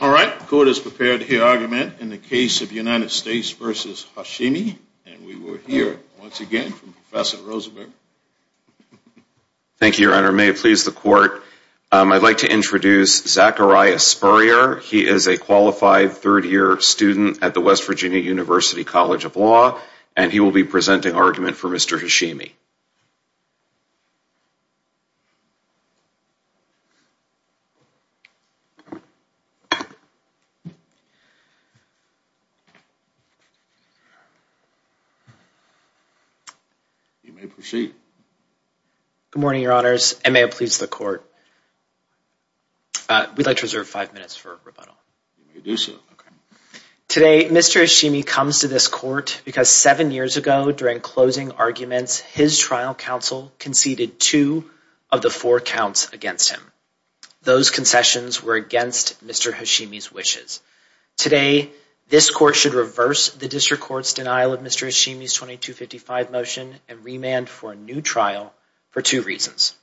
All right, the court is prepared to hear argument in the case of United States v. Hashimi, and we will hear once again from Professor Rosenberg. Thank you, Your Honor. May it please the court, I'd like to introduce Zachariah Spurrier. He is a qualified third year student at the West Virginia University College of Law, and he will be presenting argument for Mr. Hashimi. You may proceed. Good morning, Your Honors, and may it please the court. We'd like to reserve five minutes for rebuttal. Today, Mr. Hashimi comes to this court because seven years ago, during closing arguments, his trial counsel conceded two of the four counts against him. Those concessions were against Mr. Hashimi's wishes. Today, this court should reverse the district court's denial of Mr. Hashimi's 2255 motion and remand for a new trial for two reasons.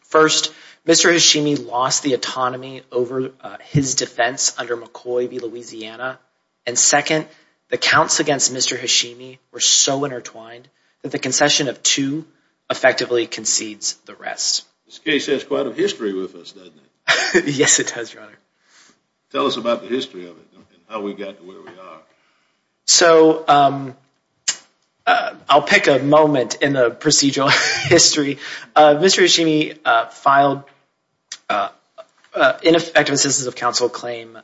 First, Mr. Hashimi lost the autonomy over his defense under McCoy v. Louisiana. And second, the counts against Mr. Hashimi were so intertwined that the concession of two effectively concedes the rest. This case has quite a history with us, doesn't it? Yes, it does, Your Honor. Tell us about the history of it and how we got to where we are. So I'll pick a moment in the procedural history. Mr. Hashimi filed an ineffective assistance of counsel claim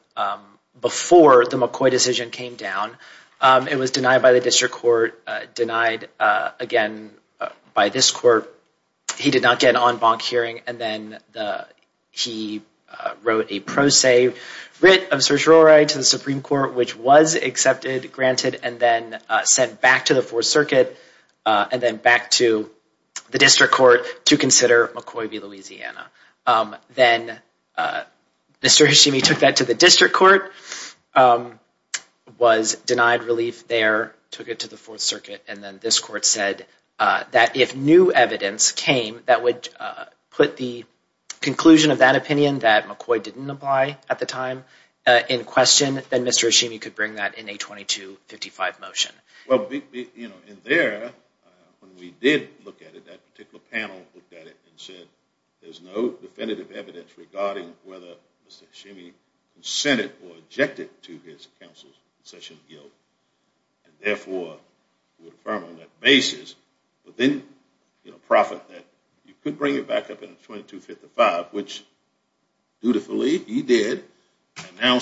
before the McCoy decision came down. It was denied by the district court, denied again by this court. He did not get an en banc hearing, and then he wrote a pro se writ of certiorari to the Supreme Court, which was accepted, granted, and then sent back to the Fourth Circuit and then back to the district court to consider McCoy v. Louisiana. Then Mr. Hashimi took that to the district court, was denied relief there, took it to the Fourth Circuit, and then this court said that if new evidence came that would put the conclusion of that opinion that McCoy didn't apply at the time in question, then Mr. Hashimi could bring that in a 2255 motion. Well, in there, when we did look at it, that particular panel looked at it and said there's no definitive evidence regarding whether Mr. Hashimi consented or objected to his counsel's concession guilt.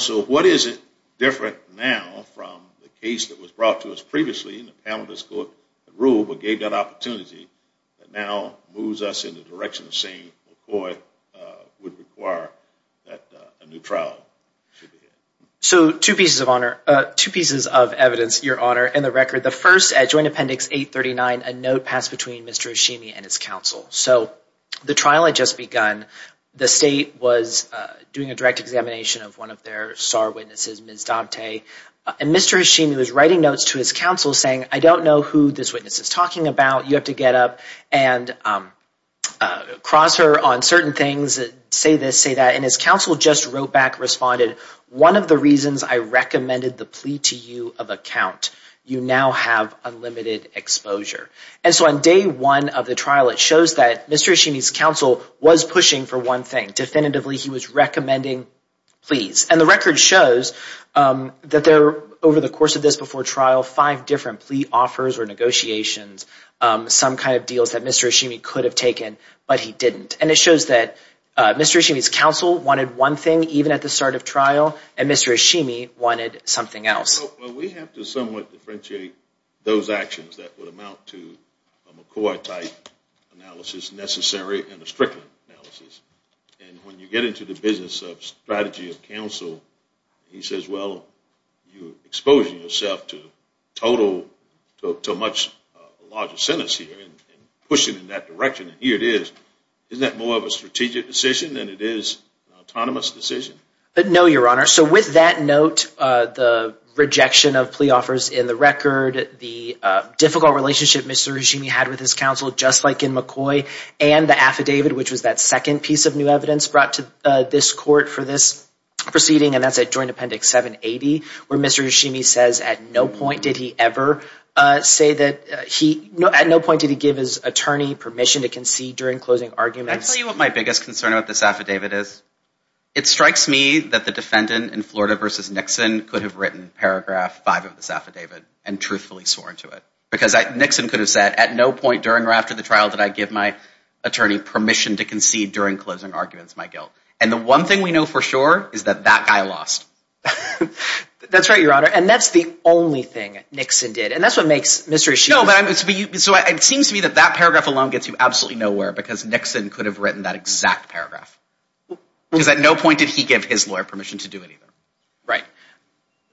So what is it different now from the case that was brought to us previously in the panel of this court that ruled but gave that opportunity that now moves us in the direction of saying McCoy would require that a new trial should be held? So two pieces of evidence, Your Honor, in the record. The first, at Joint Appendix 839, a note passed between Mr. Hashimi and his counsel. So the trial had just begun. The state was doing a direct examination of one of their star witnesses, Ms. Dante, and Mr. Hashimi was writing notes to his counsel saying, I don't know who this witness is talking about. You have to get up and cross her on certain things, say this, say that. And his counsel just wrote back, responded, one of the reasons I recommended the plea to you of a count. You now have unlimited exposure. And so on day one of the trial, it shows that Mr. Hashimi's counsel was pushing for one thing. Definitively, he was recommending pleas. And the record shows that over the course of this before trial, five different plea offers or negotiations, some kind of deals that Mr. Hashimi could have taken but he didn't. And it shows that Mr. Hashimi's counsel wanted one thing even at the start of trial and Mr. Hashimi wanted something else. Well, we have to somewhat differentiate those actions that would amount to a McCoy-type analysis necessary and a Strickland analysis. And when you get into the business of strategy of counsel, he says, well, you're exposing yourself to a much larger sentence here and pushing in that direction. And here it is. Isn't that more of a strategic decision than it is an autonomous decision? No, Your Honor. So with that note, the rejection of plea offers in the record, the difficult relationship Mr. Hashimi had with his counsel, just like in McCoy, and the affidavit, which was that second piece of new evidence brought to this court for this proceeding, and that's at Joint Appendix 780, where Mr. Hashimi says at no point did he ever say that he at no point did he give his attorney permission to concede during closing arguments. Can I tell you what my biggest concern about this affidavit is? It strikes me that the defendant in Florida v. Nixon could have written Paragraph 5 of this affidavit and truthfully swore into it. Because Nixon could have said at no point during or after the trial did I give my attorney permission to concede during closing arguments my guilt. And the one thing we know for sure is that that guy lost. That's right, Your Honor. And that's the only thing Nixon did. And that's what makes Mr. Hashimi. No, but it seems to me that that paragraph alone gets you absolutely nowhere because Nixon could have written that exact paragraph. Because at no point did he give his lawyer permission to do it either. Right.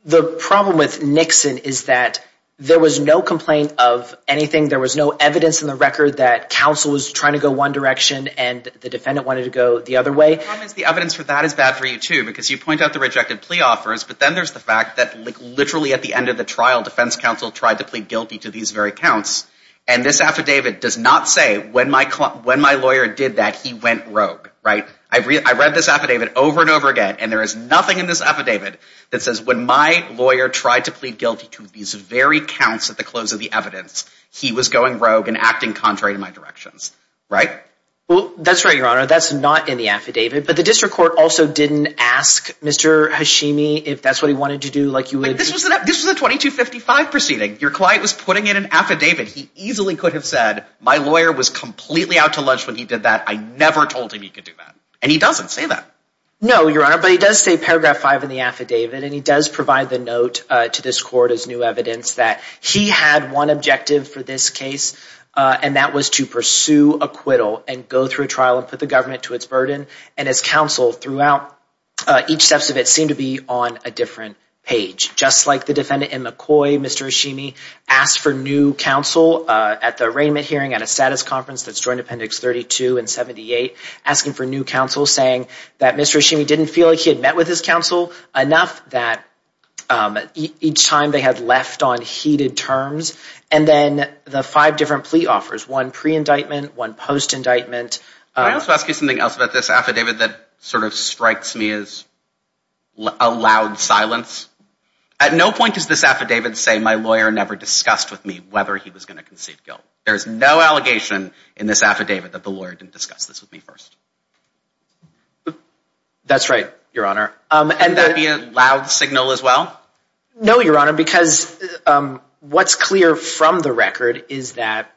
The problem with Nixon is that there was no complaint of anything. There was no evidence in the record that counsel was trying to go one direction and the defendant wanted to go the other way. The problem is the evidence for that is bad for you, too, because you point out the rejected plea offers, but then there's the fact that literally at the end of the trial, defense counsel tried to plead guilty to these very counts. And this affidavit does not say when my lawyer did that, he went rogue. Right. I read this affidavit over and over again, and there is nothing in this affidavit that says when my lawyer tried to plead guilty to these very counts at the close of the evidence, he was going rogue and acting contrary to my directions. Right. Well, that's right, Your Honor. That's not in the affidavit. But the district court also didn't ask Mr. Hashimi if that's what he wanted to do. This was a 2255 proceeding. Your client was putting in an affidavit. He easily could have said my lawyer was completely out to lunch when he did that. I never told him he could do that. And he doesn't say that. No, Your Honor, but he does say paragraph 5 in the affidavit, and he does provide the note to this court as new evidence that he had one objective for this case, and that was to pursue acquittal and go through a trial and put the government to its burden. And his counsel throughout each steps of it seemed to be on a different page. Just like the defendant in McCoy, Mr. Hashimi asked for new counsel at the arraignment hearing at a status conference that's joined Appendix 32 and 78, asking for new counsel, saying that Mr. Hashimi didn't feel like he had met with his counsel enough that each time they had left on heated terms. And then the five different plea offers, one pre-indictment, one post-indictment. Can I also ask you something else about this affidavit that sort of strikes me as a loud silence? At no point does this affidavit say my lawyer never discussed with me whether he was going to concede guilt. There is no allegation in this affidavit that the lawyer didn't discuss this with me first. That's right, Your Honor. And that be a loud signal as well? No, Your Honor, because what's clear from the record is that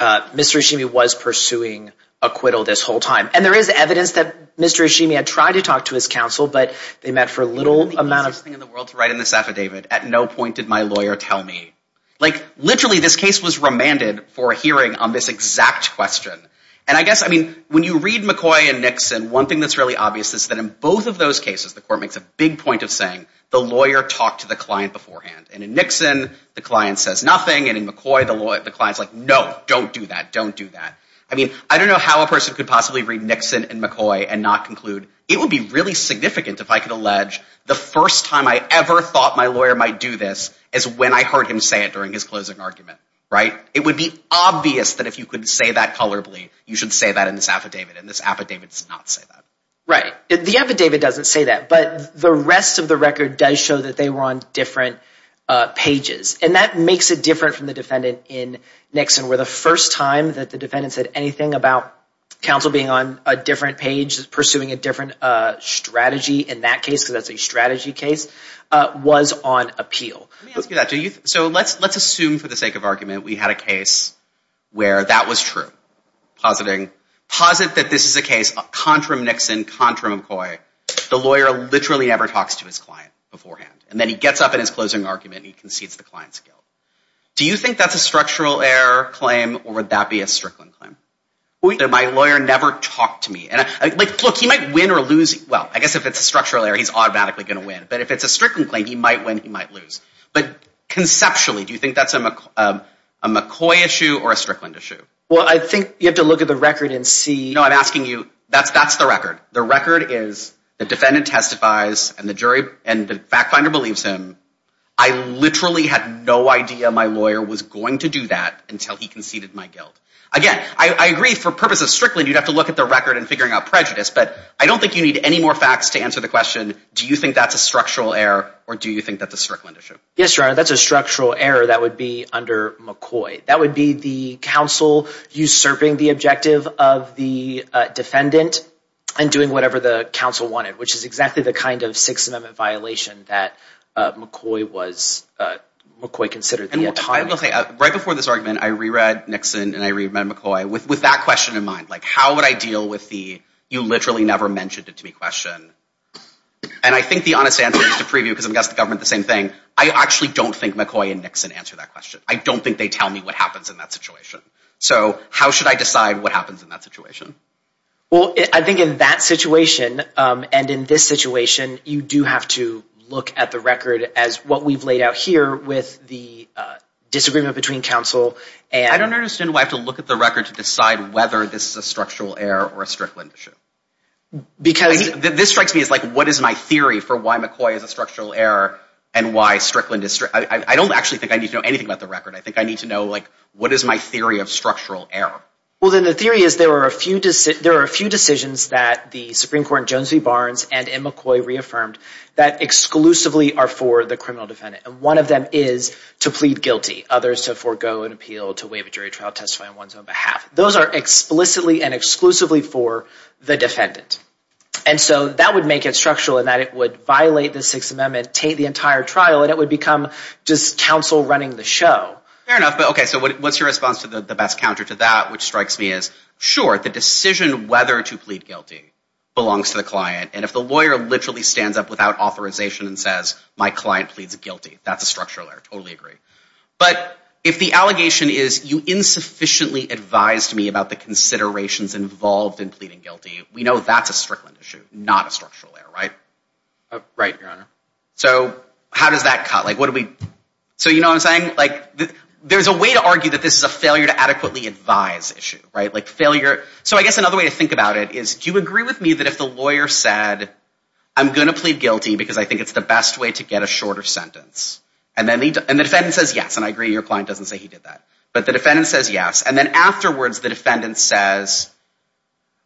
Mr. Hashimi was pursuing acquittal this whole time. And there is evidence that Mr. Hashimi had tried to talk to his counsel, but they met for a little amount of time. The easiest thing in the world to write in this affidavit, at no point did my lawyer tell me. Like, literally this case was remanded for a hearing on this exact question. And I guess, I mean, when you read McCoy and Nixon, one thing that's really obvious is that in both of those cases, the court makes a big point of saying the lawyer talked to the client beforehand. And in Nixon, the client says nothing, and in McCoy, the client's like, no, don't do that, don't do that. I mean, I don't know how a person could possibly read Nixon and McCoy and not conclude, it would be really significant if I could allege the first time I ever thought my lawyer might do this is when I heard him say it during his closing argument, right? It would be obvious that if you could say that colorably, you should say that in this affidavit. And this affidavit does not say that. Right. The affidavit doesn't say that. But the rest of the record does show that they were on different pages. And that makes it different from the defendant in Nixon, where the first time that the defendant said anything about counsel being on a different page, pursuing a different strategy in that case, because that's a strategy case, was on appeal. Let me ask you that. So let's assume for the sake of argument we had a case where that was true. Posit that this is a case, contram Nixon, contram McCoy. The lawyer literally never talks to his client beforehand. And then he gets up in his closing argument and he concedes the client's guilt. Do you think that's a structural error claim, or would that be a Strickland claim? My lawyer never talked to me. Look, he might win or lose. Well, I guess if it's a structural error, he's automatically going to win. But if it's a Strickland claim, he might win, he might lose. But conceptually, do you think that's a McCoy issue or a Strickland issue? Well, I think you have to look at the record and see. No, I'm asking you, that's the record. The record is the defendant testifies and the jury and the fact finder believes him. I literally had no idea my lawyer was going to do that until he conceded my guilt. Again, I agree for purposes of Strickland, you'd have to look at the record and figuring out prejudice. But I don't think you need any more facts to answer the question. Do you think that's a structural error, or do you think that's a Strickland issue? Yes, Your Honor, that's a structural error that would be under McCoy. That would be the counsel usurping the objective of the defendant and doing whatever the counsel wanted, which is exactly the kind of Sixth Amendment violation that McCoy considered at the time. Right before this argument, I reread Nixon and I reread McCoy with that question in mind. Like, how would I deal with the you literally never mentioned it to me question? And I think the honest answer is to preview, because I'm guessing the government the same thing. I actually don't think McCoy and Nixon answered that question. I don't think they tell me what happens in that situation. So how should I decide what happens in that situation? Well, I think in that situation and in this situation, you do have to look at the record as what we've laid out here with the disagreement between counsel and— Because— This strikes me as like, what is my theory for why McCoy is a structural error and why Strickland is— I don't actually think I need to know anything about the record. I think I need to know, like, what is my theory of structural error? Well, then the theory is there are a few decisions that the Supreme Court in Jones v. Barnes and in McCoy reaffirmed that exclusively are for the criminal defendant, and one of them is to plead guilty, others to forego an appeal, to waive a jury trial, testify on one's own behalf. Those are explicitly and exclusively for the defendant. And so that would make it structural in that it would violate the Sixth Amendment, taint the entire trial, and it would become just counsel running the show. Fair enough, but okay, so what's your response to the best counter to that, which strikes me as, sure, the decision whether to plead guilty belongs to the client, and if the lawyer literally stands up without authorization and says, my client pleads guilty, that's a structural error. Totally agree. But if the allegation is you insufficiently advised me about the considerations involved in pleading guilty, we know that's a strickland issue, not a structural error, right? Right, Your Honor. So how does that cut? Like, what do we... So you know what I'm saying? Like, there's a way to argue that this is a failure to adequately advise issue, right? Like failure... So I guess another way to think about it is, do you agree with me that if the lawyer said, I'm going to plead guilty because I think it's the best way to get a shorter sentence, and the defendant says yes, and I agree your client doesn't say he did that, but the defendant says yes, and then afterwards the defendant says,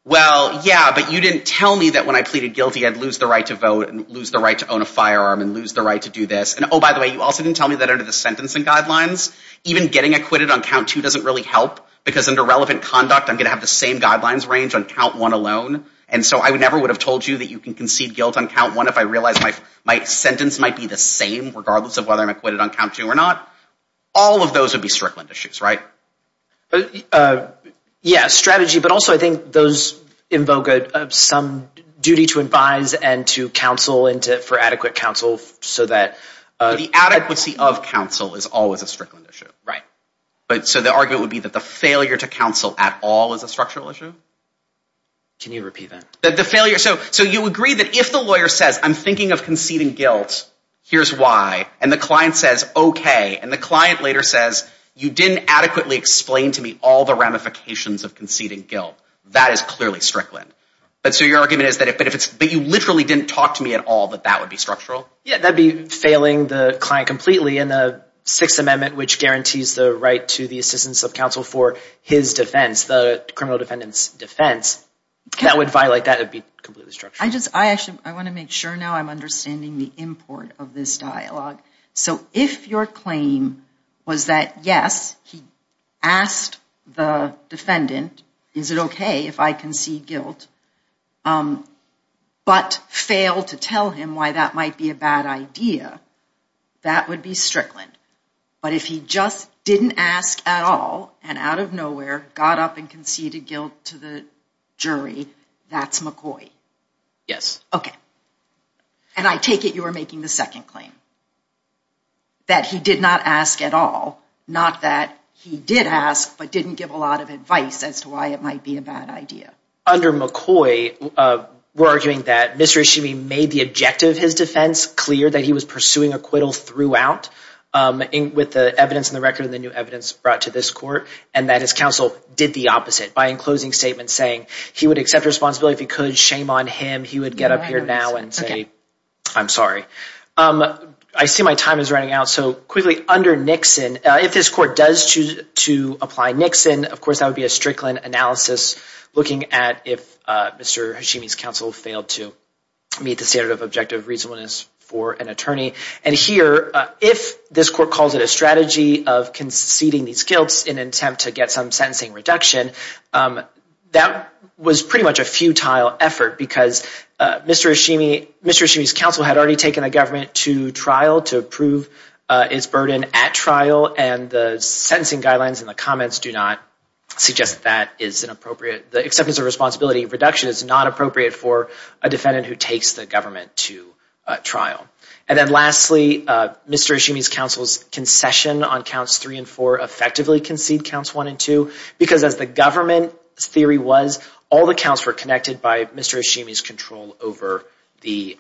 well, yeah, but you didn't tell me that when I pleaded guilty I'd lose the right to vote and lose the right to own a firearm and lose the right to do this, and oh, by the way, you also didn't tell me that under the sentencing guidelines, even getting acquitted on count two doesn't really help, because under relevant conduct I'm going to have the same guidelines range on count one alone, and so I never would have told you that you can concede guilt on count one if I realized my sentence might be the same regardless of whether I'm acquitted on count two or not. All of those would be strickland issues, right? Yeah, strategy, but also I think those invoke some duty to advise and to counsel for adequate counsel so that... The adequacy of counsel is always a strickland issue. Right. So the argument would be that the failure to counsel at all is a structural issue? Can you repeat that? So you agree that if the lawyer says, I'm thinking of conceding guilt, here's why, and the client says, okay, and the client later says, you didn't adequately explain to me all the ramifications of conceding guilt, that is clearly strickland. But so your argument is that if you literally didn't talk to me at all, that that would be structural? Yeah, that would be failing the client completely in the Sixth Amendment, which guarantees the right to the assistance of counsel for his defense, the criminal defendant's defense, that would violate, that would be completely structural. I want to make sure now I'm understanding the import of this dialogue. So if your claim was that, yes, he asked the defendant, is it okay if I concede guilt, but failed to tell him why that might be a bad idea, that would be strickland. But if he just didn't ask at all and out of nowhere got up and conceded guilt to the jury, that's McCoy. Yes. Okay. And I take it you were making the second claim, that he did not ask at all, not that he did ask but didn't give a lot of advice as to why it might be a bad idea. Under McCoy, we're arguing that Mr. Ishimi made the objective of his defense clear that he was pursuing acquittal throughout with the evidence in the record and the new evidence brought to this court, and that his counsel did the opposite by, in closing statements, saying he would accept responsibility if he could, shame on him, he would get up here now and say, I'm sorry. I see my time is running out, so quickly, under Nixon, if this court does choose to apply Nixon, of course, that would be a strickland analysis looking at if Mr. Ishimi's counsel failed to meet the standard of objective reasonableness for an attorney. And here, if this court calls it a strategy of conceding these guilts in an attempt to get some sentencing reduction, that was pretty much a futile effort because Mr. Ishimi's counsel had already taken the government to trial to prove its burden at trial, and the sentencing guidelines and the comments do not suggest that is inappropriate. The acceptance of responsibility reduction is not appropriate for a defendant who takes the government to trial. And then lastly, Mr. Ishimi's counsel's concession on counts three and four effectively conceded counts one and two, because as the government's theory was, all the counts were connected by Mr. Ishimi's control over Ms.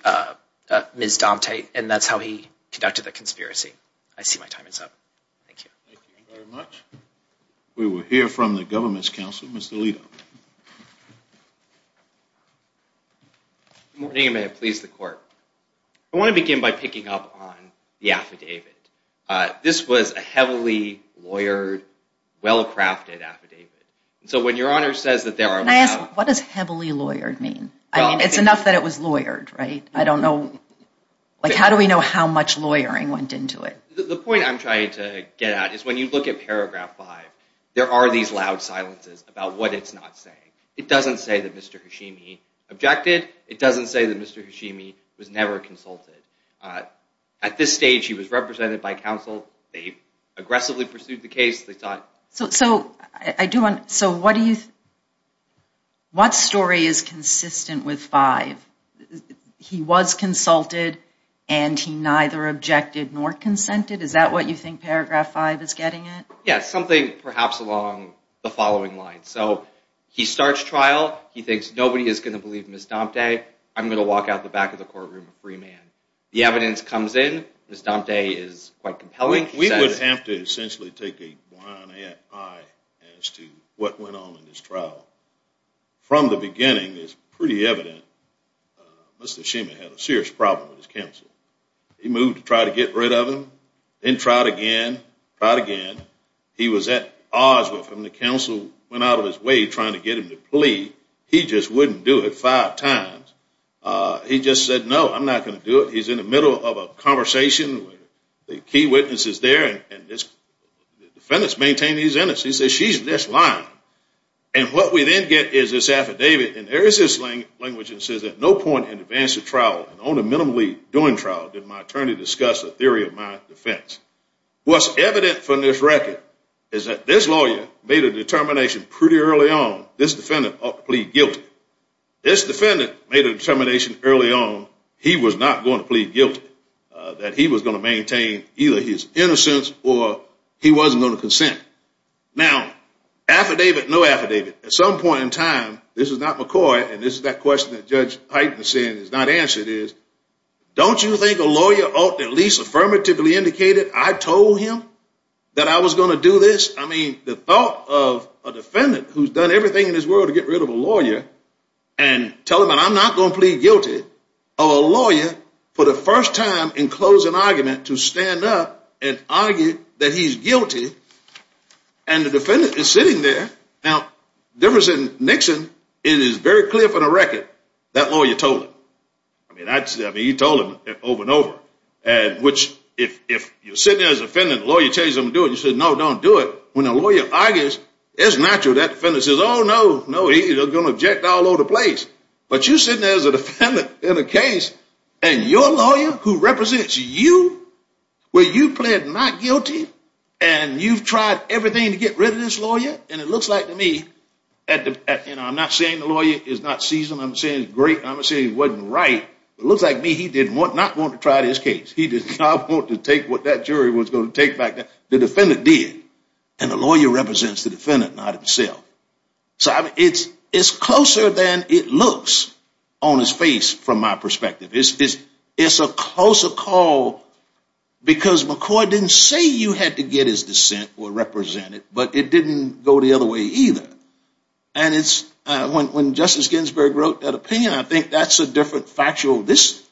Dante, and that's how he conducted the conspiracy. I see my time is up. Thank you. Thank you very much. We will hear from the government's counsel, Mr. Lito. Good morning, and may it please the court. I want to begin by picking up on the affidavit. This was a heavily lawyered, well-crafted affidavit. So when your Honor says that there are... Can I ask, what does heavily lawyered mean? I mean, it's enough that it was lawyered, right? I don't know, like how do we know how much lawyering went into it? The point I'm trying to get at is when you look at paragraph five, there are these loud silences about what it's not saying. It doesn't say that Mr. Ishimi objected. It doesn't say that Mr. Ishimi was never consulted. At this stage, he was represented by counsel. They aggressively pursued the case. They thought... So what story is consistent with five? He was consulted, and he neither objected nor consented? Is that what you think paragraph five is getting at? Yes, something perhaps along the following lines. So he starts trial. He thinks nobody is going to believe Ms. Dante. I'm going to walk out the back of the courtroom a free man. The evidence comes in. Ms. Dante is quite compelling. We would have to essentially take a blind eye as to what went on in this trial. From the beginning, it's pretty evident Mr. Ishimi had a serious problem with his counsel. He moved to try to get rid of him, then tried again, tried again. He was at odds with him. The counsel went out of his way trying to get him to plead. He just wouldn't do it five times. He just said, no, I'm not going to do it. He's in the middle of a conversation with the key witnesses there, and the defendants maintain he's innocent. He says, she's just lying. And what we then get is this affidavit, and there is this language that says, at no point in advance of trial, and only minimally during trial, did my attorney discuss a theory of my defense. What's evident from this record is that this lawyer made a determination pretty early on, this defendant ought to plead guilty. This defendant made a determination early on he was not going to plead guilty, that he was going to maintain either his innocence or he wasn't going to consent. Now, affidavit, no affidavit. At some point in time, this is not McCoy, and this is that question that Judge Hyten is saying is not answered is, don't you think a lawyer ought to at least affirmatively indicate that I told him that I was going to do this? I mean, the thought of a defendant who's done everything in his world to get rid of a lawyer and tell him that I'm not going to plead guilty, or a lawyer for the first time in closing argument to stand up and argue that he's guilty, and the defendant is sitting there. Now, different than Nixon, it is very clear from the record that lawyer told him. I mean, he told him over and over, which if you're sitting there as a defendant, the lawyer tells you to do it, you say, no, don't do it. When a lawyer argues, it's natural that defendant says, oh, no, no, he's going to object all over the place. But you're sitting there as a defendant in a case, and your lawyer who represents you, where you plead not guilty, and you've tried everything to get rid of this lawyer, and it looks like to me, and I'm not saying the lawyer is not seasoned, I'm saying he's great, and I'm not saying he wasn't right, but it looks like to me he did not want to try this case. He did not want to take what that jury was going to take back. The defendant did, and the lawyer represents the defendant, not himself. So it's closer than it looks on his face from my perspective. It's a closer call because McCoy didn't say you had to get his dissent or represent it, but it didn't go the other way either. And when Justice Ginsburg wrote that opinion, I think that's a different factual. This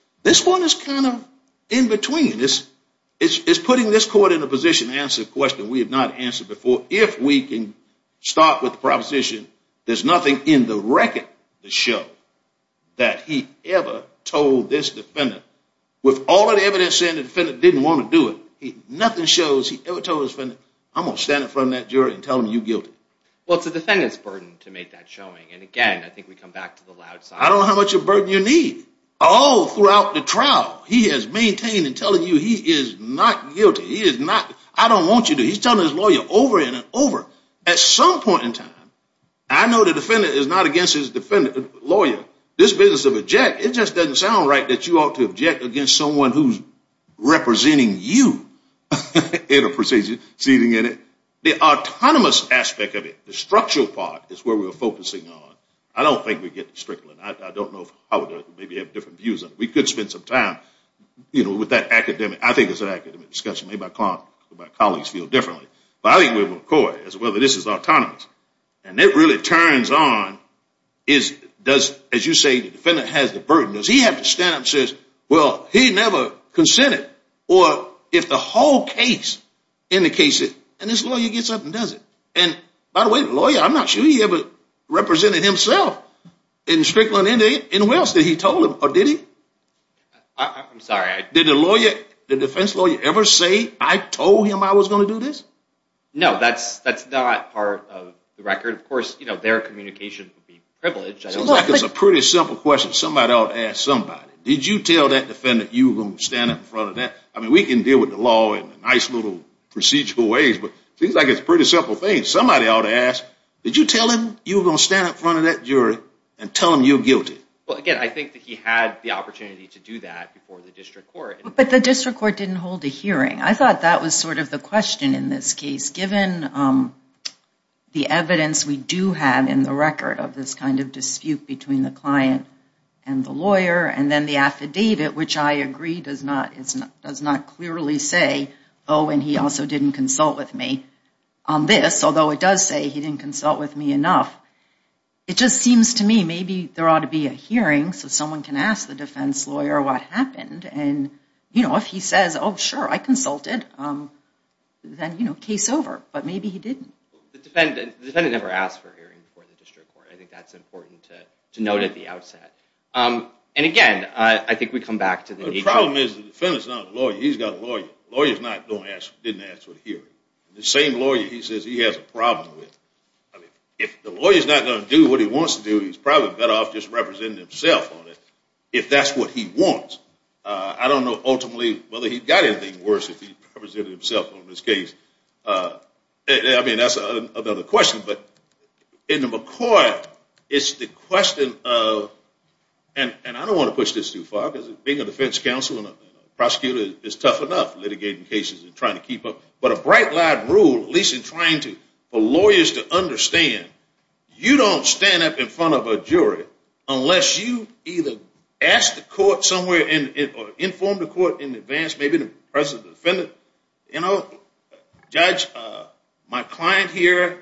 one is kind of in between. It's putting this court in a position to answer a question we have not answered before, so if we can start with the proposition there's nothing in the record to show that he ever told this defendant, with all of the evidence saying the defendant didn't want to do it, nothing shows he ever told his defendant, I'm going to stand in front of that jury and tell them you're guilty. Well, it's the defendant's burden to make that showing, and again, I think we come back to the loud side. I don't know how much of a burden you need. All throughout the trial he has maintained in telling you he is not guilty. He is not. I don't want you to. He's telling his lawyer over and over. At some point in time, I know the defendant is not against his lawyer. This business of object, it just doesn't sound right that you ought to object against someone who's representing you in a proceeding. The autonomous aspect of it, the structural part, is where we're focusing on. I don't think we get the sprinkler. I don't know if I would maybe have different views. We could spend some time with that academic. I think it's an academic discussion. Maybe I can't. My colleagues feel differently. But I think with McCoy, as well, that this is autonomous. And it really turns on, as you say, the defendant has the burden. Does he have to stand up and say, well, he never consented? Or if the whole case indicates it, and this lawyer gets up and does it. And by the way, the lawyer, I'm not sure he ever represented himself in Strickland. And who else did he tell him? Or did he? I'm sorry. Did the defense lawyer ever say, I told him I was going to do this? No. That's not part of the record. Of course, their communication would be privileged. Seems like it's a pretty simple question. Somebody ought to ask somebody. Did you tell that defendant you were going to stand up in front of that? I mean, we can deal with the law in nice little procedural ways. But seems like it's a pretty simple thing. Somebody ought to ask, did you tell him you were going to stand up in front of that jury and tell him you're guilty? Well, again, I think that he had the opportunity to do that before the district court. But the district court didn't hold a hearing. I thought that was sort of the question in this case. Given the evidence we do have in the record of this kind of dispute between the client and the lawyer, and then the affidavit, which I agree does not clearly say, oh, and he also didn't consult with me on this. Although it does say he didn't consult with me enough. It just seems to me maybe there ought to be a hearing so someone can ask the defense lawyer what happened. And if he says, oh, sure, I consulted, then case over. But maybe he didn't. The defendant never asked for a hearing before the district court. I think that's important to note at the outset. And again, I think we come back to the issue. The problem is the defendant is not a lawyer. He's got a lawyer. The lawyer didn't ask for the hearing. The same lawyer he says he has a problem with. If the lawyer is not going to do what he wants to do, he's probably better off just representing himself on it if that's what he wants. I don't know ultimately whether he's got anything worse if he represented himself on this case. I mean, that's another question. But in the McCoy, it's the question of, and I don't want to push this too far because being a defense counsel and a prosecutor is tough enough litigating cases and trying to keep up. But a bright, loud rule, at least in trying to for lawyers to understand, you don't stand up in front of a jury unless you either ask the court somewhere or inform the court in advance, maybe the president or defendant. Judge, my client here,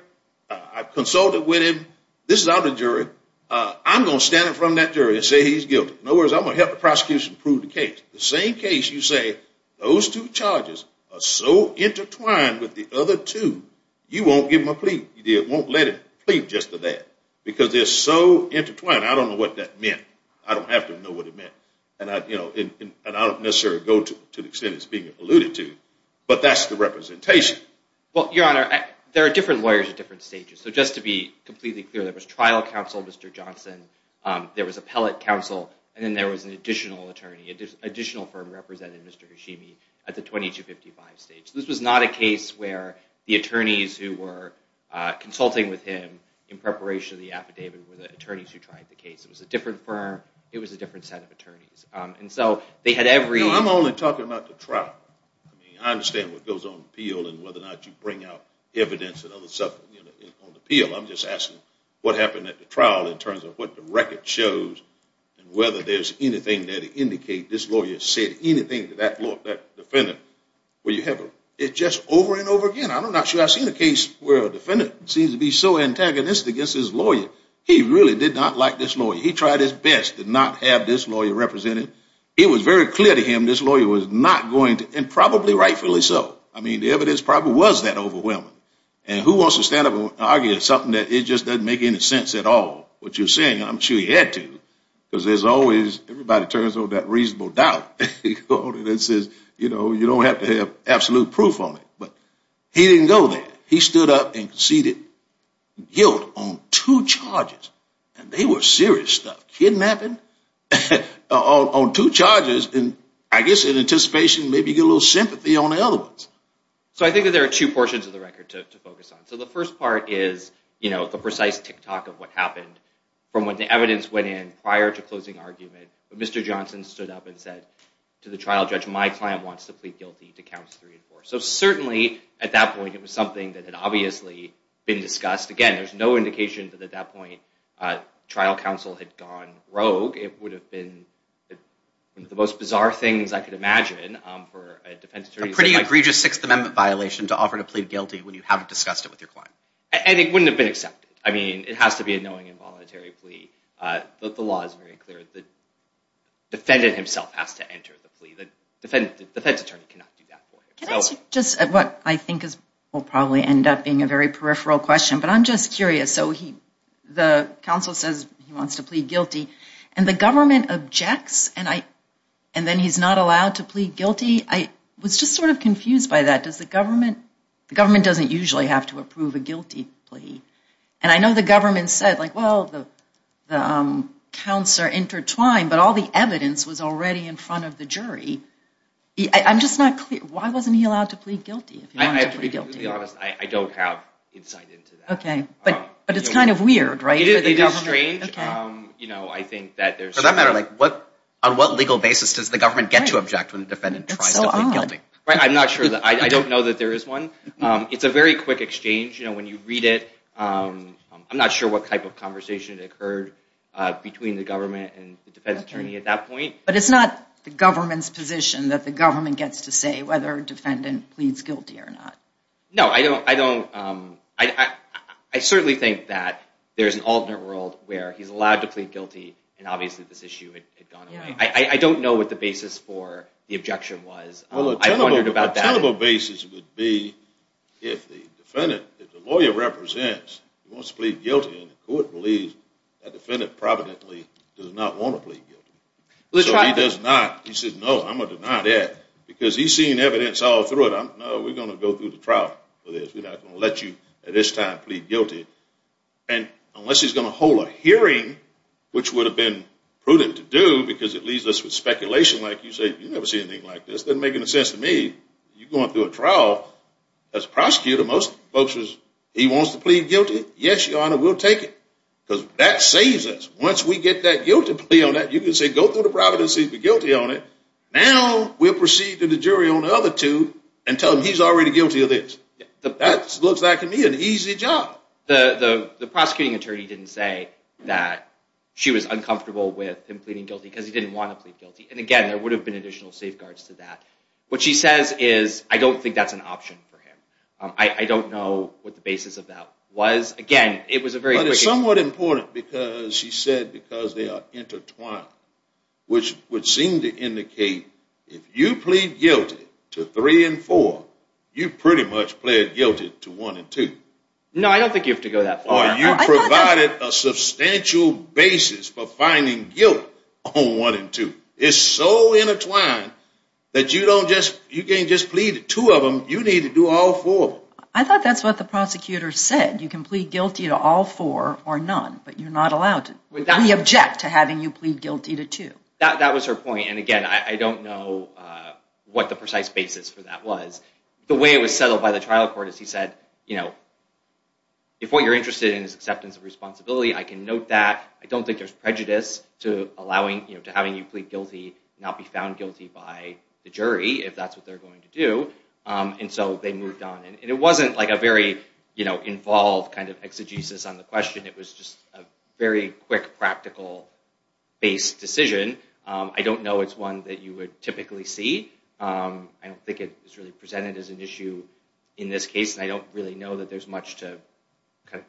I've consulted with him. This is out of the jury. I'm going to stand in front of that jury and say he's guilty. In other words, I'm going to help the prosecution prove the case. The same case you say, those two charges are so intertwined with the other two, you won't give him a plea. You won't let him plead just to that because they're so intertwined. I don't know what that meant. I don't have to know what it meant. And I don't necessarily go to the extent it's being alluded to, but that's the representation. Well, Your Honor, there are different lawyers at different stages. So just to be completely clear, there was trial counsel, Mr. Johnson. There was appellate counsel, and then there was an additional attorney, additional firm represented Mr. Hashimi at the 2255 stage. This was not a case where the attorneys who were consulting with him in preparation of the affidavit were the attorneys who tried the case. It was a different firm. It was a different set of attorneys. No, I'm only talking about the trial. I mean, I understand what goes on in the appeal and whether or not you bring out evidence and other stuff on the appeal. I'm just asking what happened at the trial in terms of what the record shows and whether there's anything that indicates this lawyer said anything to that defendant. It's just over and over again. I'm not sure I've seen a case where a defendant seems to be so antagonistic against his lawyer. He really did not like this lawyer. He tried his best to not have this lawyer represented. It was very clear to him this lawyer was not going to, and probably rightfully so. I mean, the evidence probably was that overwhelming. And who wants to stand up and argue something that it just doesn't make any sense at all, what you're saying? I'm sure he had to because there's always, everybody turns on that reasonable doubt. It says, you know, you don't have to have absolute proof on it. But he didn't go there. He stood up and conceded guilt on two charges. And they were serious stuff, kidnapping on two charges. And I guess in anticipation, maybe you get a little sympathy on the other ones. So I think that there are two portions of the record to focus on. So the first part is, you know, the precise tick-tock of what happened from when the evidence went in prior to closing argument. But Mr. Johnson stood up and said to the trial judge, my client wants to plead guilty to counts three and four. So certainly at that point, it was something that had obviously been discussed. Again, there's no indication that at that point trial counsel had gone rogue. It would have been one of the most bizarre things I could imagine for a defense attorney. A pretty egregious Sixth Amendment violation to offer to plead guilty when you haven't discussed it with your client. And it wouldn't have been accepted. I mean, it has to be a knowing involuntary plea. The law is very clear. The defendant himself has to enter the plea. The defense attorney cannot do that for him. Just what I think will probably end up being a very peripheral question, but I'm just curious. So the counsel says he wants to plead guilty, and the government objects, and then he's not allowed to plead guilty. I was just sort of confused by that. Does the government, the government doesn't usually have to approve a guilty plea. And I know the government said, like, well, the counts are intertwined, but all the evidence was already in front of the jury. I'm just not clear. Why wasn't he allowed to plead guilty if he wanted to plead guilty? To be honest, I don't have insight into that. Okay, but it's kind of weird, right? It is strange. Okay. You know, I think that there's... For that matter, like, on what legal basis does the government get to object when the defendant tries to plead guilty? That's so odd. I'm not sure. I don't know that there is one. It's a very quick exchange. You know, when you read it, I'm not sure what type of conversation occurred between the government and the defense attorney at that point. But it's not the government's position that the government gets to say whether a defendant pleads guilty or not. No, I don't... I certainly think that there's an alternate world where he's allowed to plead guilty, and obviously this issue had gone away. I don't know what the basis for the objection was. I wondered about that. Well, a tenable basis would be if the defendant, if the lawyer represents, wants to plead guilty and the court believes that defendant providently does not want to plead guilty. So he does not. He says, no, I'm going to deny that because he's seen evidence all through it. No, we're going to go through the trial for this. We're not going to let you at this time plead guilty. And unless he's going to hold a hearing, which would have been prudent to do because it leaves us with speculation like you say, you've never seen anything like this. It doesn't make any sense to me. You're going through a trial. As a prosecutor, most folks, he wants to plead guilty. Yes, Your Honor, we'll take it because that saves us. Once we get that guilty plea on that, you can say, go through the providence and plead guilty on it. Now we'll proceed to the jury on the other two and tell them he's already guilty of this. That looks like to me an easy job. The prosecuting attorney didn't say that she was uncomfortable with him pleading guilty because he didn't want to plead guilty. And again, there would have been additional safeguards to that. What she says is, I don't think that's an option for him. I don't know what the basis of that was. But it's somewhat important because she said because they are intertwined, which would seem to indicate if you plead guilty to three and four, you pretty much pled guilty to one and two. No, I don't think you have to go that far. Or you provided a substantial basis for finding guilt on one and two. It's so intertwined that you can't just plead two of them. You need to do all four of them. I thought that's what the prosecutor said. You can plead guilty to all four or none, but you're not allowed to. We object to having you plead guilty to two. That was her point. And again, I don't know what the precise basis for that was. The way it was settled by the trial court is he said, if what you're interested in is acceptance of responsibility, I can note that. I don't think there's prejudice to having you plead guilty and not be found guilty by the jury if that's what they're going to do. And so they moved on. And it wasn't like a very involved kind of exegesis on the question. It was just a very quick, practical-based decision. I don't know it's one that you would typically see. I don't think it was really presented as an issue in this case, and I don't really know that there's much to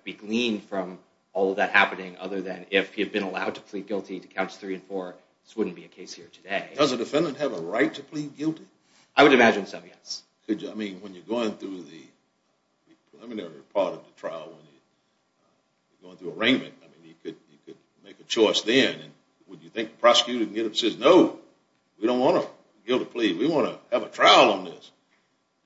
be gleaned from all of that happening other than if you've been allowed to plead guilty to counts three and four, this wouldn't be a case here today. Does a defendant have a right to plead guilty? I would imagine so, yes. I mean, when you're going through the preliminary part of the trial, when you're going through arraignment, I mean, you could make a choice then. Would you think the prosecutor can get up and say, no, we don't want a guilty plea. We want to have a trial on this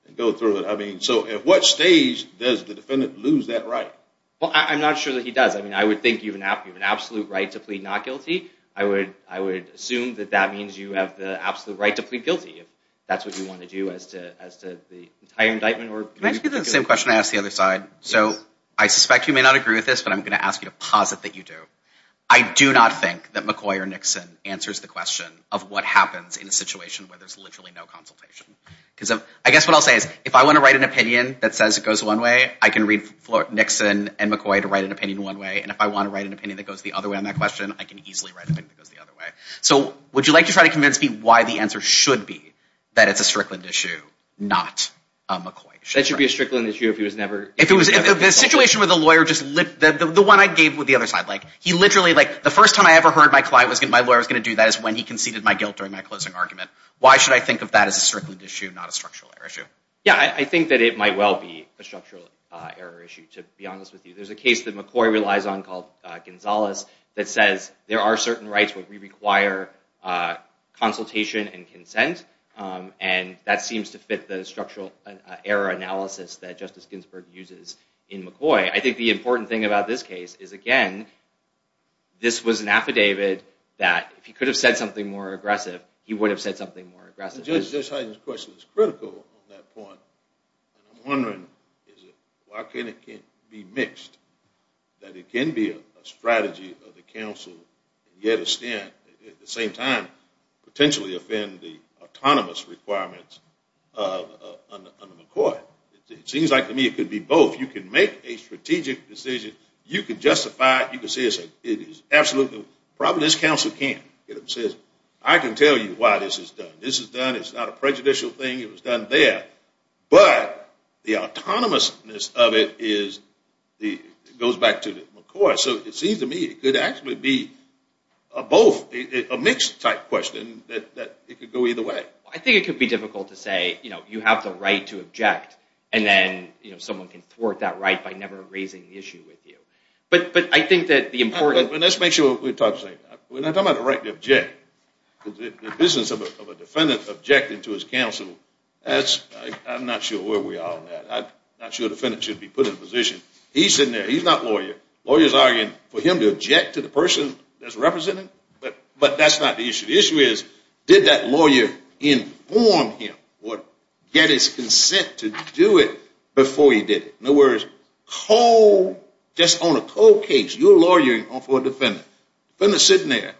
and go through it. I mean, so at what stage does the defendant lose that right? Well, I'm not sure that he does. I mean, I would think you have an absolute right to plead not guilty. I would assume that that means you have the absolute right to plead guilty if that's what you want to do as to the entire indictment. Can I ask you the same question I asked the other side? So I suspect you may not agree with this, but I'm going to ask you to posit that you do. I do not think that McCoy or Nixon answers the question of what happens in a situation where there's literally no consultation. Because I guess what I'll say is if I want to write an opinion that says it goes one way, I can read Nixon and McCoy to write an opinion one way, and if I want to write an opinion that goes the other way on that question, I can easily write an opinion that goes the other way. So would you like to try to convince me why the answer should be that it's a strickland issue, not a McCoy issue? That should be a strickland issue if he was never involved. If the situation where the lawyer just lit—the one I gave with the other side, like he literally—like the first time I ever heard my client was—my lawyer was going to do that is when he conceded my guilt during my closing argument. Why should I think of that as a strickland issue, not a structural error issue? Yeah, I think that it might well be a structural error issue, to be honest with you. There's a case that McCoy relies on called Gonzales that says there are certain rights where we require consultation and consent, and that seems to fit the structural error analysis that Justice Ginsburg uses in McCoy. I think the important thing about this case is, again, this was an affidavit that if he could have said something more aggressive, he would have said something more aggressive. Judge Hyden's question is critical on that point. I'm wondering, why can't it be mixed? That it can be a strategy of the counsel to get a stand and at the same time potentially offend the autonomous requirements under McCoy. It seems like to me it could be both. You can make a strategic decision. You can justify it. You can say it is absolutely—probably this counsel can't. I can tell you why this is done. This is done. It's not a prejudicial thing. It was done there. But the autonomousness of it goes back to McCoy. So it seems to me it could actually be a mixed type question that it could go either way. I think it could be difficult to say you have the right to object, and then someone can thwart that right by never raising the issue with you. But I think that the important— Let's make sure we're talking about the right to object. The business of a defendant objecting to his counsel, I'm not sure where we are on that. I'm not sure a defendant should be put in a position. He's sitting there. He's not a lawyer. Lawyers are arguing for him to object to the person that's representing him, but that's not the issue. The issue is did that lawyer inform him or get his consent to do it before he did it? No worries. Just on a cold case, you're a lawyer for a defendant. Defendant's sitting there.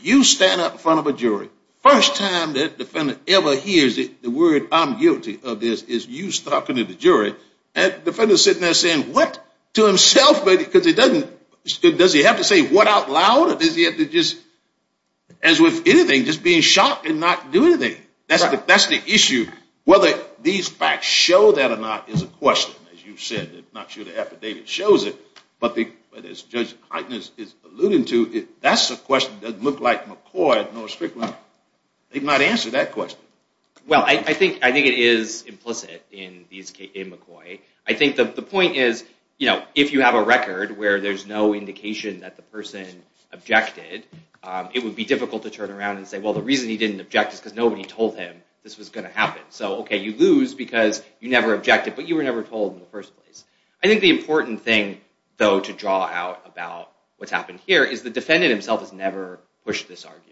You stand up in front of a jury. First time that a defendant ever hears the word I'm guilty of this is you talking to the jury. And the defendant's sitting there saying what to himself? Does he have to say what out loud? Or does he have to just, as with anything, just be shocked and not do anything? That's the issue. Whether these facts show that or not is a question, as you said. I'm not sure the affidavit shows it, but as Judge Heitner is alluding to, that's a question that doesn't look like McCoy nor Strickland. They've not answered that question. Well, I think it is implicit in McCoy. I think the point is if you have a record where there's no indication that the person objected, it would be difficult to turn around and say, well, the reason he didn't object is because nobody told him this was going to happen. So, okay, you lose because you never objected, but you were never told in the first place. I think the important thing, though, to draw out about what's happened here is the defendant himself has never pushed this argument.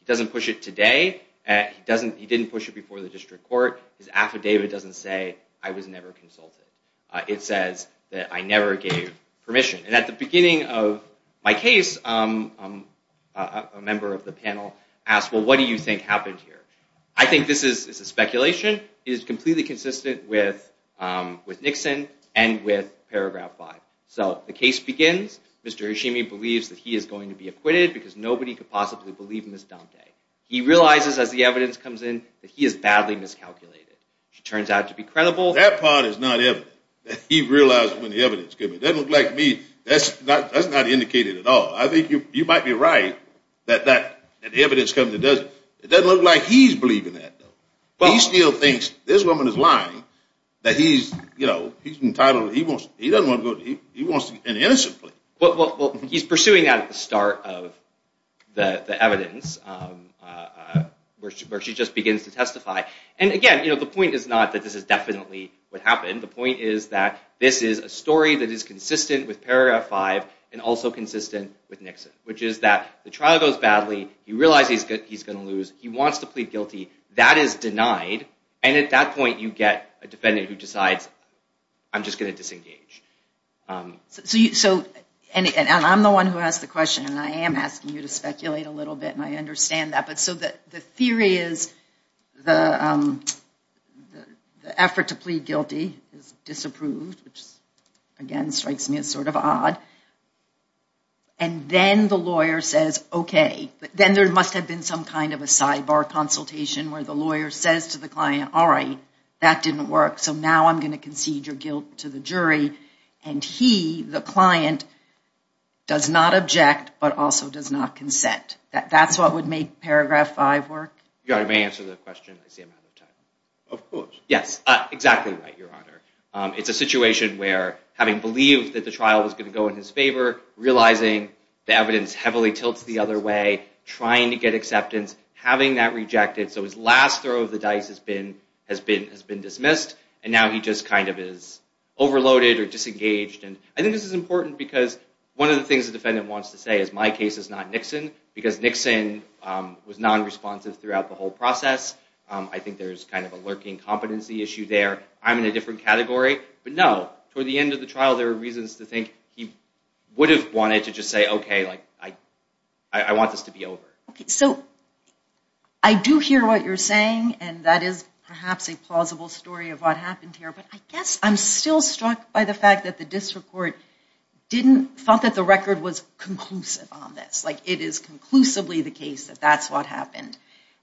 He doesn't push it today. He didn't push it before the district court. His affidavit doesn't say I was never consulted. It says that I never gave permission. And at the beginning of my case, a member of the panel asked, well, what do you think happened here? I think this is a speculation. It is completely consistent with Nixon and with Paragraph 5. So the case begins. Mr. Hashimi believes that he is going to be acquitted because nobody could possibly believe Ms. Dante. He realizes as the evidence comes in that he is badly miscalculated. She turns out to be credible. That part is not evident. He realizes when the evidence comes in. It doesn't look like me. That's not indicated at all. I think you might be right that the evidence comes in. It doesn't look like he's believing that, though. He still thinks this woman is lying, that he's entitled. He wants an innocent plea. Well, he's pursuing that at the start of the evidence where she just begins to testify. And, again, the point is not that this is definitely what happened. The point is that this is a story that is consistent with Paragraph 5 and also consistent with Nixon, which is that the trial goes badly. He realizes he's going to lose. He wants to plead guilty. That is denied. And at that point, you get a defendant who decides, I'm just going to disengage. And I'm the one who asked the question, and I am asking you to speculate a little bit, and I understand that. But so the theory is the effort to plead guilty is disapproved, which, again, strikes me as sort of odd. And then the lawyer says, okay. Then there must have been some kind of a sidebar consultation where the lawyer says to the client, all right, that didn't work, so now I'm going to concede your guilt to the jury. And he, the client, does not object but also does not consent. That's what would make Paragraph 5 work? Your Honor, may I answer the question? I see I'm out of time. Of course. Yes, exactly right, Your Honor. It's a situation where having believed that the trial was going to go in his favor, realizing the evidence heavily tilts the other way, trying to get acceptance, having that rejected, so his last throw of the dice has been dismissed, and now he just kind of is overloaded or disengaged. And I think this is important because one of the things the defendant wants to say is my case is not Nixon because Nixon was nonresponsive throughout the whole process. I think there's kind of a lurking competency issue there. I'm in a different category. But no, toward the end of the trial, there were reasons to think he would have wanted to just say, okay, like, I want this to be over. Okay, so I do hear what you're saying, and that is perhaps a plausible story of what happened here. But I guess I'm still struck by the fact that the district court thought that the record was conclusive on this, like it is conclusively the case that that's what happened.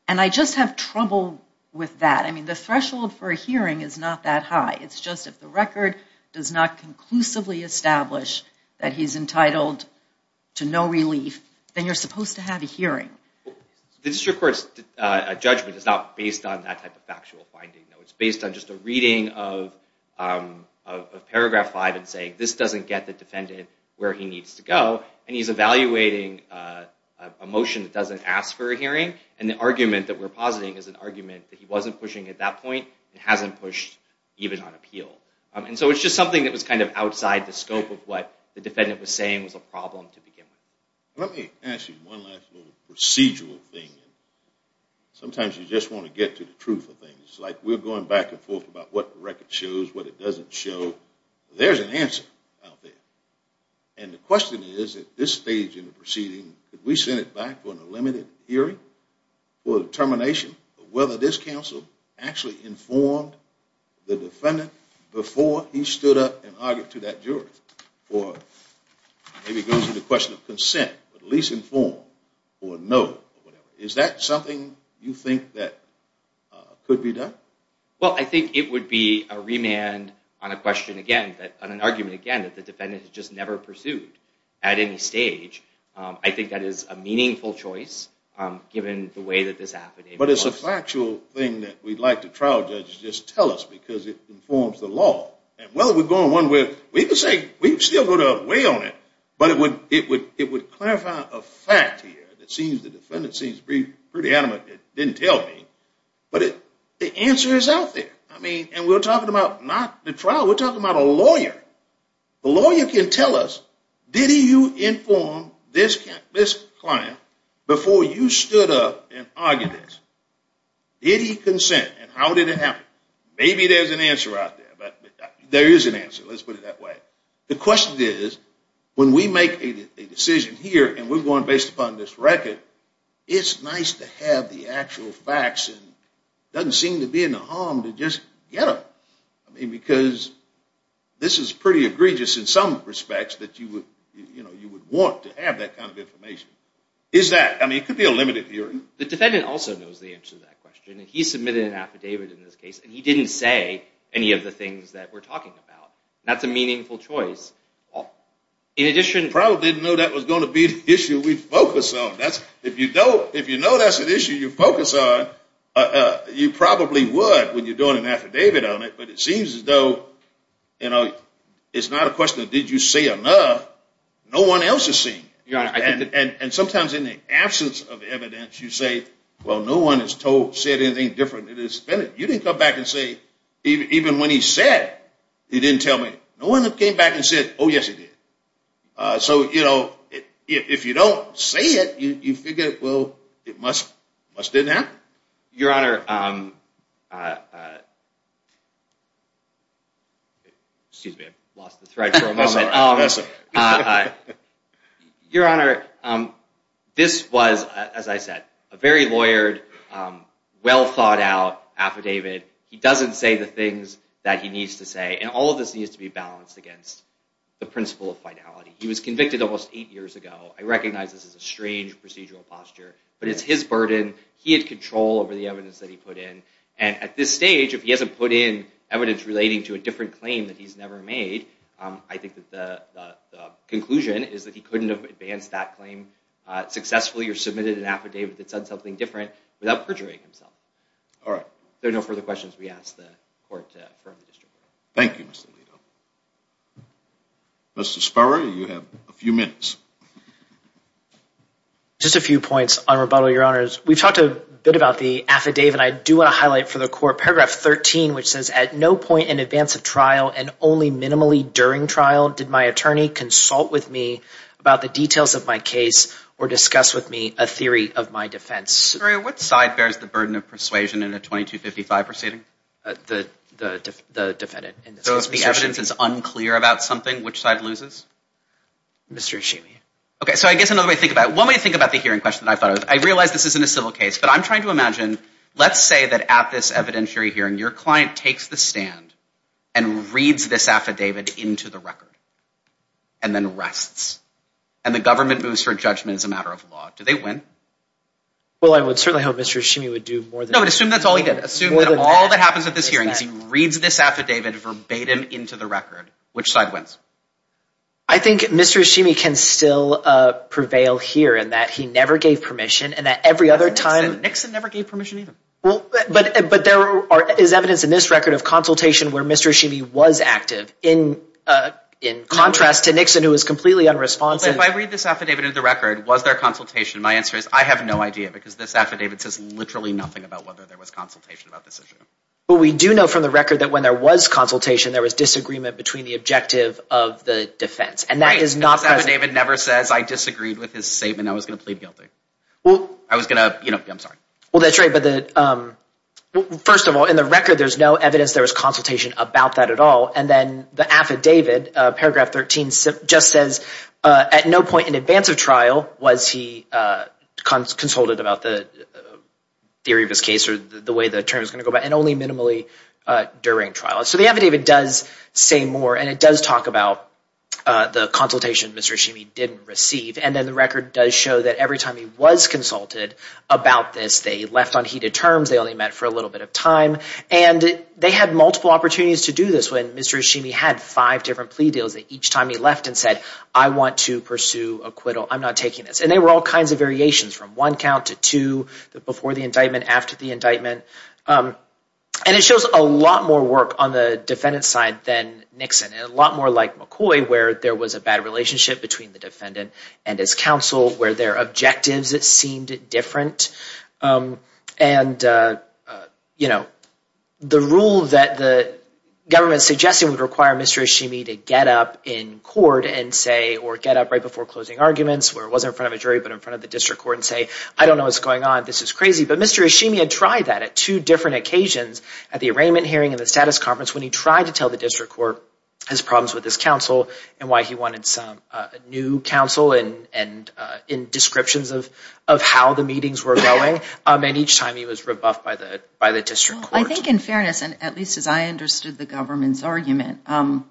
And I just have trouble with that. I mean, the threshold for a hearing is not that high. It's just if the record does not conclusively establish that he's entitled to no relief, then you're supposed to have a hearing. The district court's judgment is not based on that type of factual finding. It's based on just a reading of paragraph five and saying this doesn't get the defendant where he needs to go. And he's evaluating a motion that doesn't ask for a hearing. And the argument that we're positing is an argument that he wasn't pushing at that point and hasn't pushed even on appeal. And so it's just something that was kind of outside the scope of what the defendant was saying was a problem to begin with. Let me ask you one last little procedural thing. It's like we're going back and forth about what the record shows, what it doesn't show. There's an answer out there. And the question is, at this stage in the proceeding, could we send it back for a limited hearing for determination of whether this counsel actually informed the defendant before he stood up and argued to that jury? Or maybe it goes to the question of consent, at least informed, or no. Is that something you think that could be done? Well, I think it would be a remand on a question again, on an argument again, that the defendant has just never pursued at any stage. I think that is a meaningful choice given the way that this happened. But it's a factual thing that we'd like the trial judges to just tell us because it informs the law. And whether we're going one way or the other, we can say we've still got a way on it, but it would clarify a fact here. It seems the defendant seems pretty adamant it didn't tell me. But the answer is out there. And we're talking about not the trial. We're talking about a lawyer. The lawyer can tell us, did he inform this client before you stood up and argued this? Did he consent, and how did it happen? Maybe there's an answer out there. There is an answer. Let's put it that way. The question is, when we make a decision here and we're going based upon this record, it's nice to have the actual facts. It doesn't seem to be a harm to just get them. Because this is pretty egregious in some respects that you would want to have that kind of information. It could be a limited hearing. The defendant also knows the answer to that question. He submitted an affidavit in this case, and he didn't say any of the things that we're talking about. That's a meaningful choice. I probably didn't know that was going to be an issue we'd focus on. If you know that's an issue you focus on, you probably would when you're doing an affidavit on it. But it seems as though it's not a question of did you say enough. No one else is saying it. And sometimes in the absence of evidence, you say, well, no one has said anything different than this defendant. You didn't come back and say, even when he said, he didn't tell me. No one came back and said, oh, yes, he did. So if you don't say it, you figure, well, it must have happened. Your Honor, this was, as I said, a very lawyered, well-thought-out affidavit. He doesn't say the things that he needs to say. And all of this needs to be balanced against the principle of finality. He was convicted almost eight years ago. I recognize this is a strange procedural posture, but it's his burden. He had control over the evidence that he put in. And at this stage, if he hasn't put in evidence relating to a different claim that he's never made, I think that the conclusion is that he couldn't have advanced that claim successfully or submitted an affidavit that said something different without perjuring himself. All right. If there are no further questions, we ask the Court to affirm the district court. Thank you, Mr. Lito. Mr. Sparrow, you have a few minutes. Just a few points on rebuttal, Your Honors. We've talked a bit about the affidavit. I do want to highlight for the Court paragraph 13, which says, at no point in advance of trial and only minimally during trial did my attorney consult with me about the details of my case or discuss with me a theory of my defense. What side bears the burden of persuasion in a 2255 proceeding? The defendant. So if the evidence is unclear about something, which side loses? Mr. Eshimi. Okay. So I guess another way to think about it, one way to think about the hearing question that I thought of, I realize this isn't a civil case, but I'm trying to imagine, let's say that at this evidentiary hearing, your client takes the stand and reads this affidavit into the record and then rests, and the government moves for judgment as a matter of law. Do they win? Well, I would certainly hope Mr. Eshimi would do more than that. No, but assume that's all he did. Assume that all that happens at this hearing is he reads this affidavit verbatim into the record. Which side wins? I think Mr. Eshimi can still prevail here in that he never gave permission and that every other time— Nixon never gave permission either. But there is evidence in this record of consultation where Mr. Eshimi was active in contrast to Nixon who was completely unresponsive. But if I read this affidavit into the record, was there consultation? My answer is I have no idea because this affidavit says literally nothing about whether there was consultation about this issue. But we do know from the record that when there was consultation, there was disagreement between the objective of the defense. And that is not— This affidavit never says I disagreed with his statement. I was going to plead guilty. I was going to—I'm sorry. Well, that's right. But first of all, in the record, there's no evidence there was consultation about that at all. And then the affidavit, paragraph 13, just says at no point in advance of trial was he consulted about the theory of his case or the way the term is going to go about and only minimally during trial. So the affidavit does say more, and it does talk about the consultation Mr. Eshimi didn't receive. And then the record does show that every time he was consulted about this, they left on heated terms. They only met for a little bit of time. And they had multiple opportunities to do this when Mr. Eshimi had five different plea deals that each time he left and said, I want to pursue acquittal. I'm not taking this. And there were all kinds of variations from one count to two, before the indictment, after the indictment. And it shows a lot more work on the defendant's side than Nixon and a lot more like McCoy, where there was a bad relationship between the defendant and his counsel, where their objectives seemed different. And, you know, the rule that the government is suggesting would require Mr. Eshimi to get up in court and say, or get up right before closing arguments, where it wasn't in front of a jury but in front of the district court, and say, I don't know what's going on. This is crazy. But Mr. Eshimi had tried that at two different occasions at the arraignment hearing and the status conference when he tried to tell the district court his problems with his counsel and why he wanted some new counsel and in descriptions of how the meetings were going. And each time he was rebuffed by the district court. I think in fairness, and at least as I understood the government's argument, I'm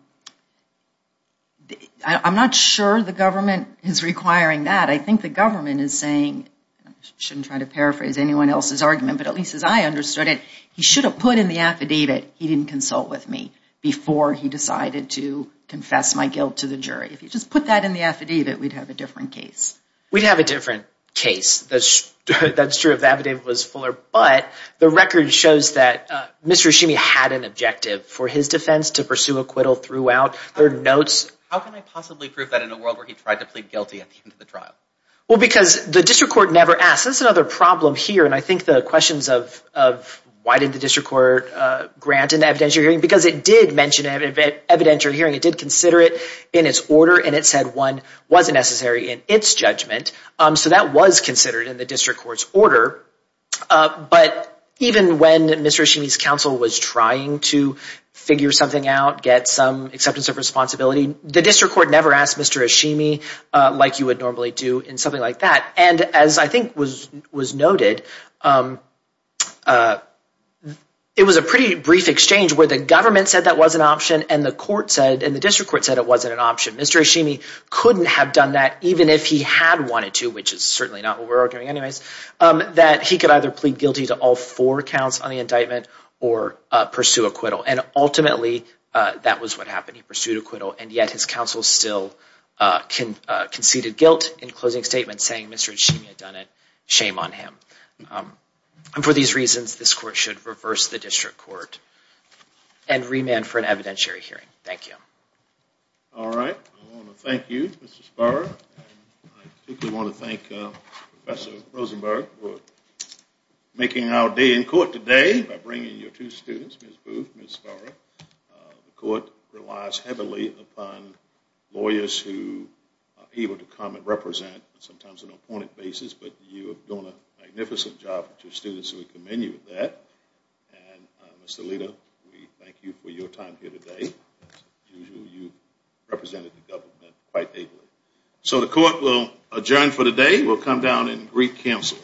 not sure the government is requiring that. I think the government is saying, I shouldn't try to paraphrase anyone else's argument, but at least as I understood it, he should have put in the affidavit he didn't consult with me before he decided to confess my guilt to the jury. If you just put that in the affidavit, we'd have a different case. We'd have a different case. That's true if the affidavit was fuller. But the record shows that Mr. Eshimi had an objective for his defense to pursue acquittal throughout. How can I possibly prove that in a world where he tried to plead guilty at the end of the trial? Well, because the district court never asked. That's another problem here, and I think the questions of why did the district court grant an evidentiary hearing, because it did mention an evidentiary hearing. It did consider it in its order, and it said one wasn't necessary in its judgment. So that was considered in the district court's order. But even when Mr. Eshimi's counsel was trying to figure something out, get some acceptance of responsibility, the district court never asked Mr. Eshimi like you would normally do in something like that. And as I think was noted, it was a pretty brief exchange where the government said that was an option, and the district court said it wasn't an option. Mr. Eshimi couldn't have done that even if he had wanted to, which is certainly not what we're arguing anyways, that he could either plead guilty to all four counts on the indictment or pursue acquittal. And ultimately, that was what happened. He pursued acquittal, and yet his counsel still conceded guilt in closing statements, saying Mr. Eshimi had done it. Shame on him. And for these reasons, this court should reverse the district court and remand for an evidentiary hearing. Thank you. All right. I want to thank you, Mr. Sparrow, and I particularly want to thank Professor Rosenberg for making our day in court today by bringing your two students, Ms. Booth and Ms. Sparrow. The court relies heavily upon lawyers who are able to come and represent, sometimes on an appointed basis, but you have done a magnificent job with your students, so we commend you for that. And Mr. Lita, we thank you for your time here today. As usual, you represented the government quite ably. So the court will adjourn for the day. We'll come down and greet counsel.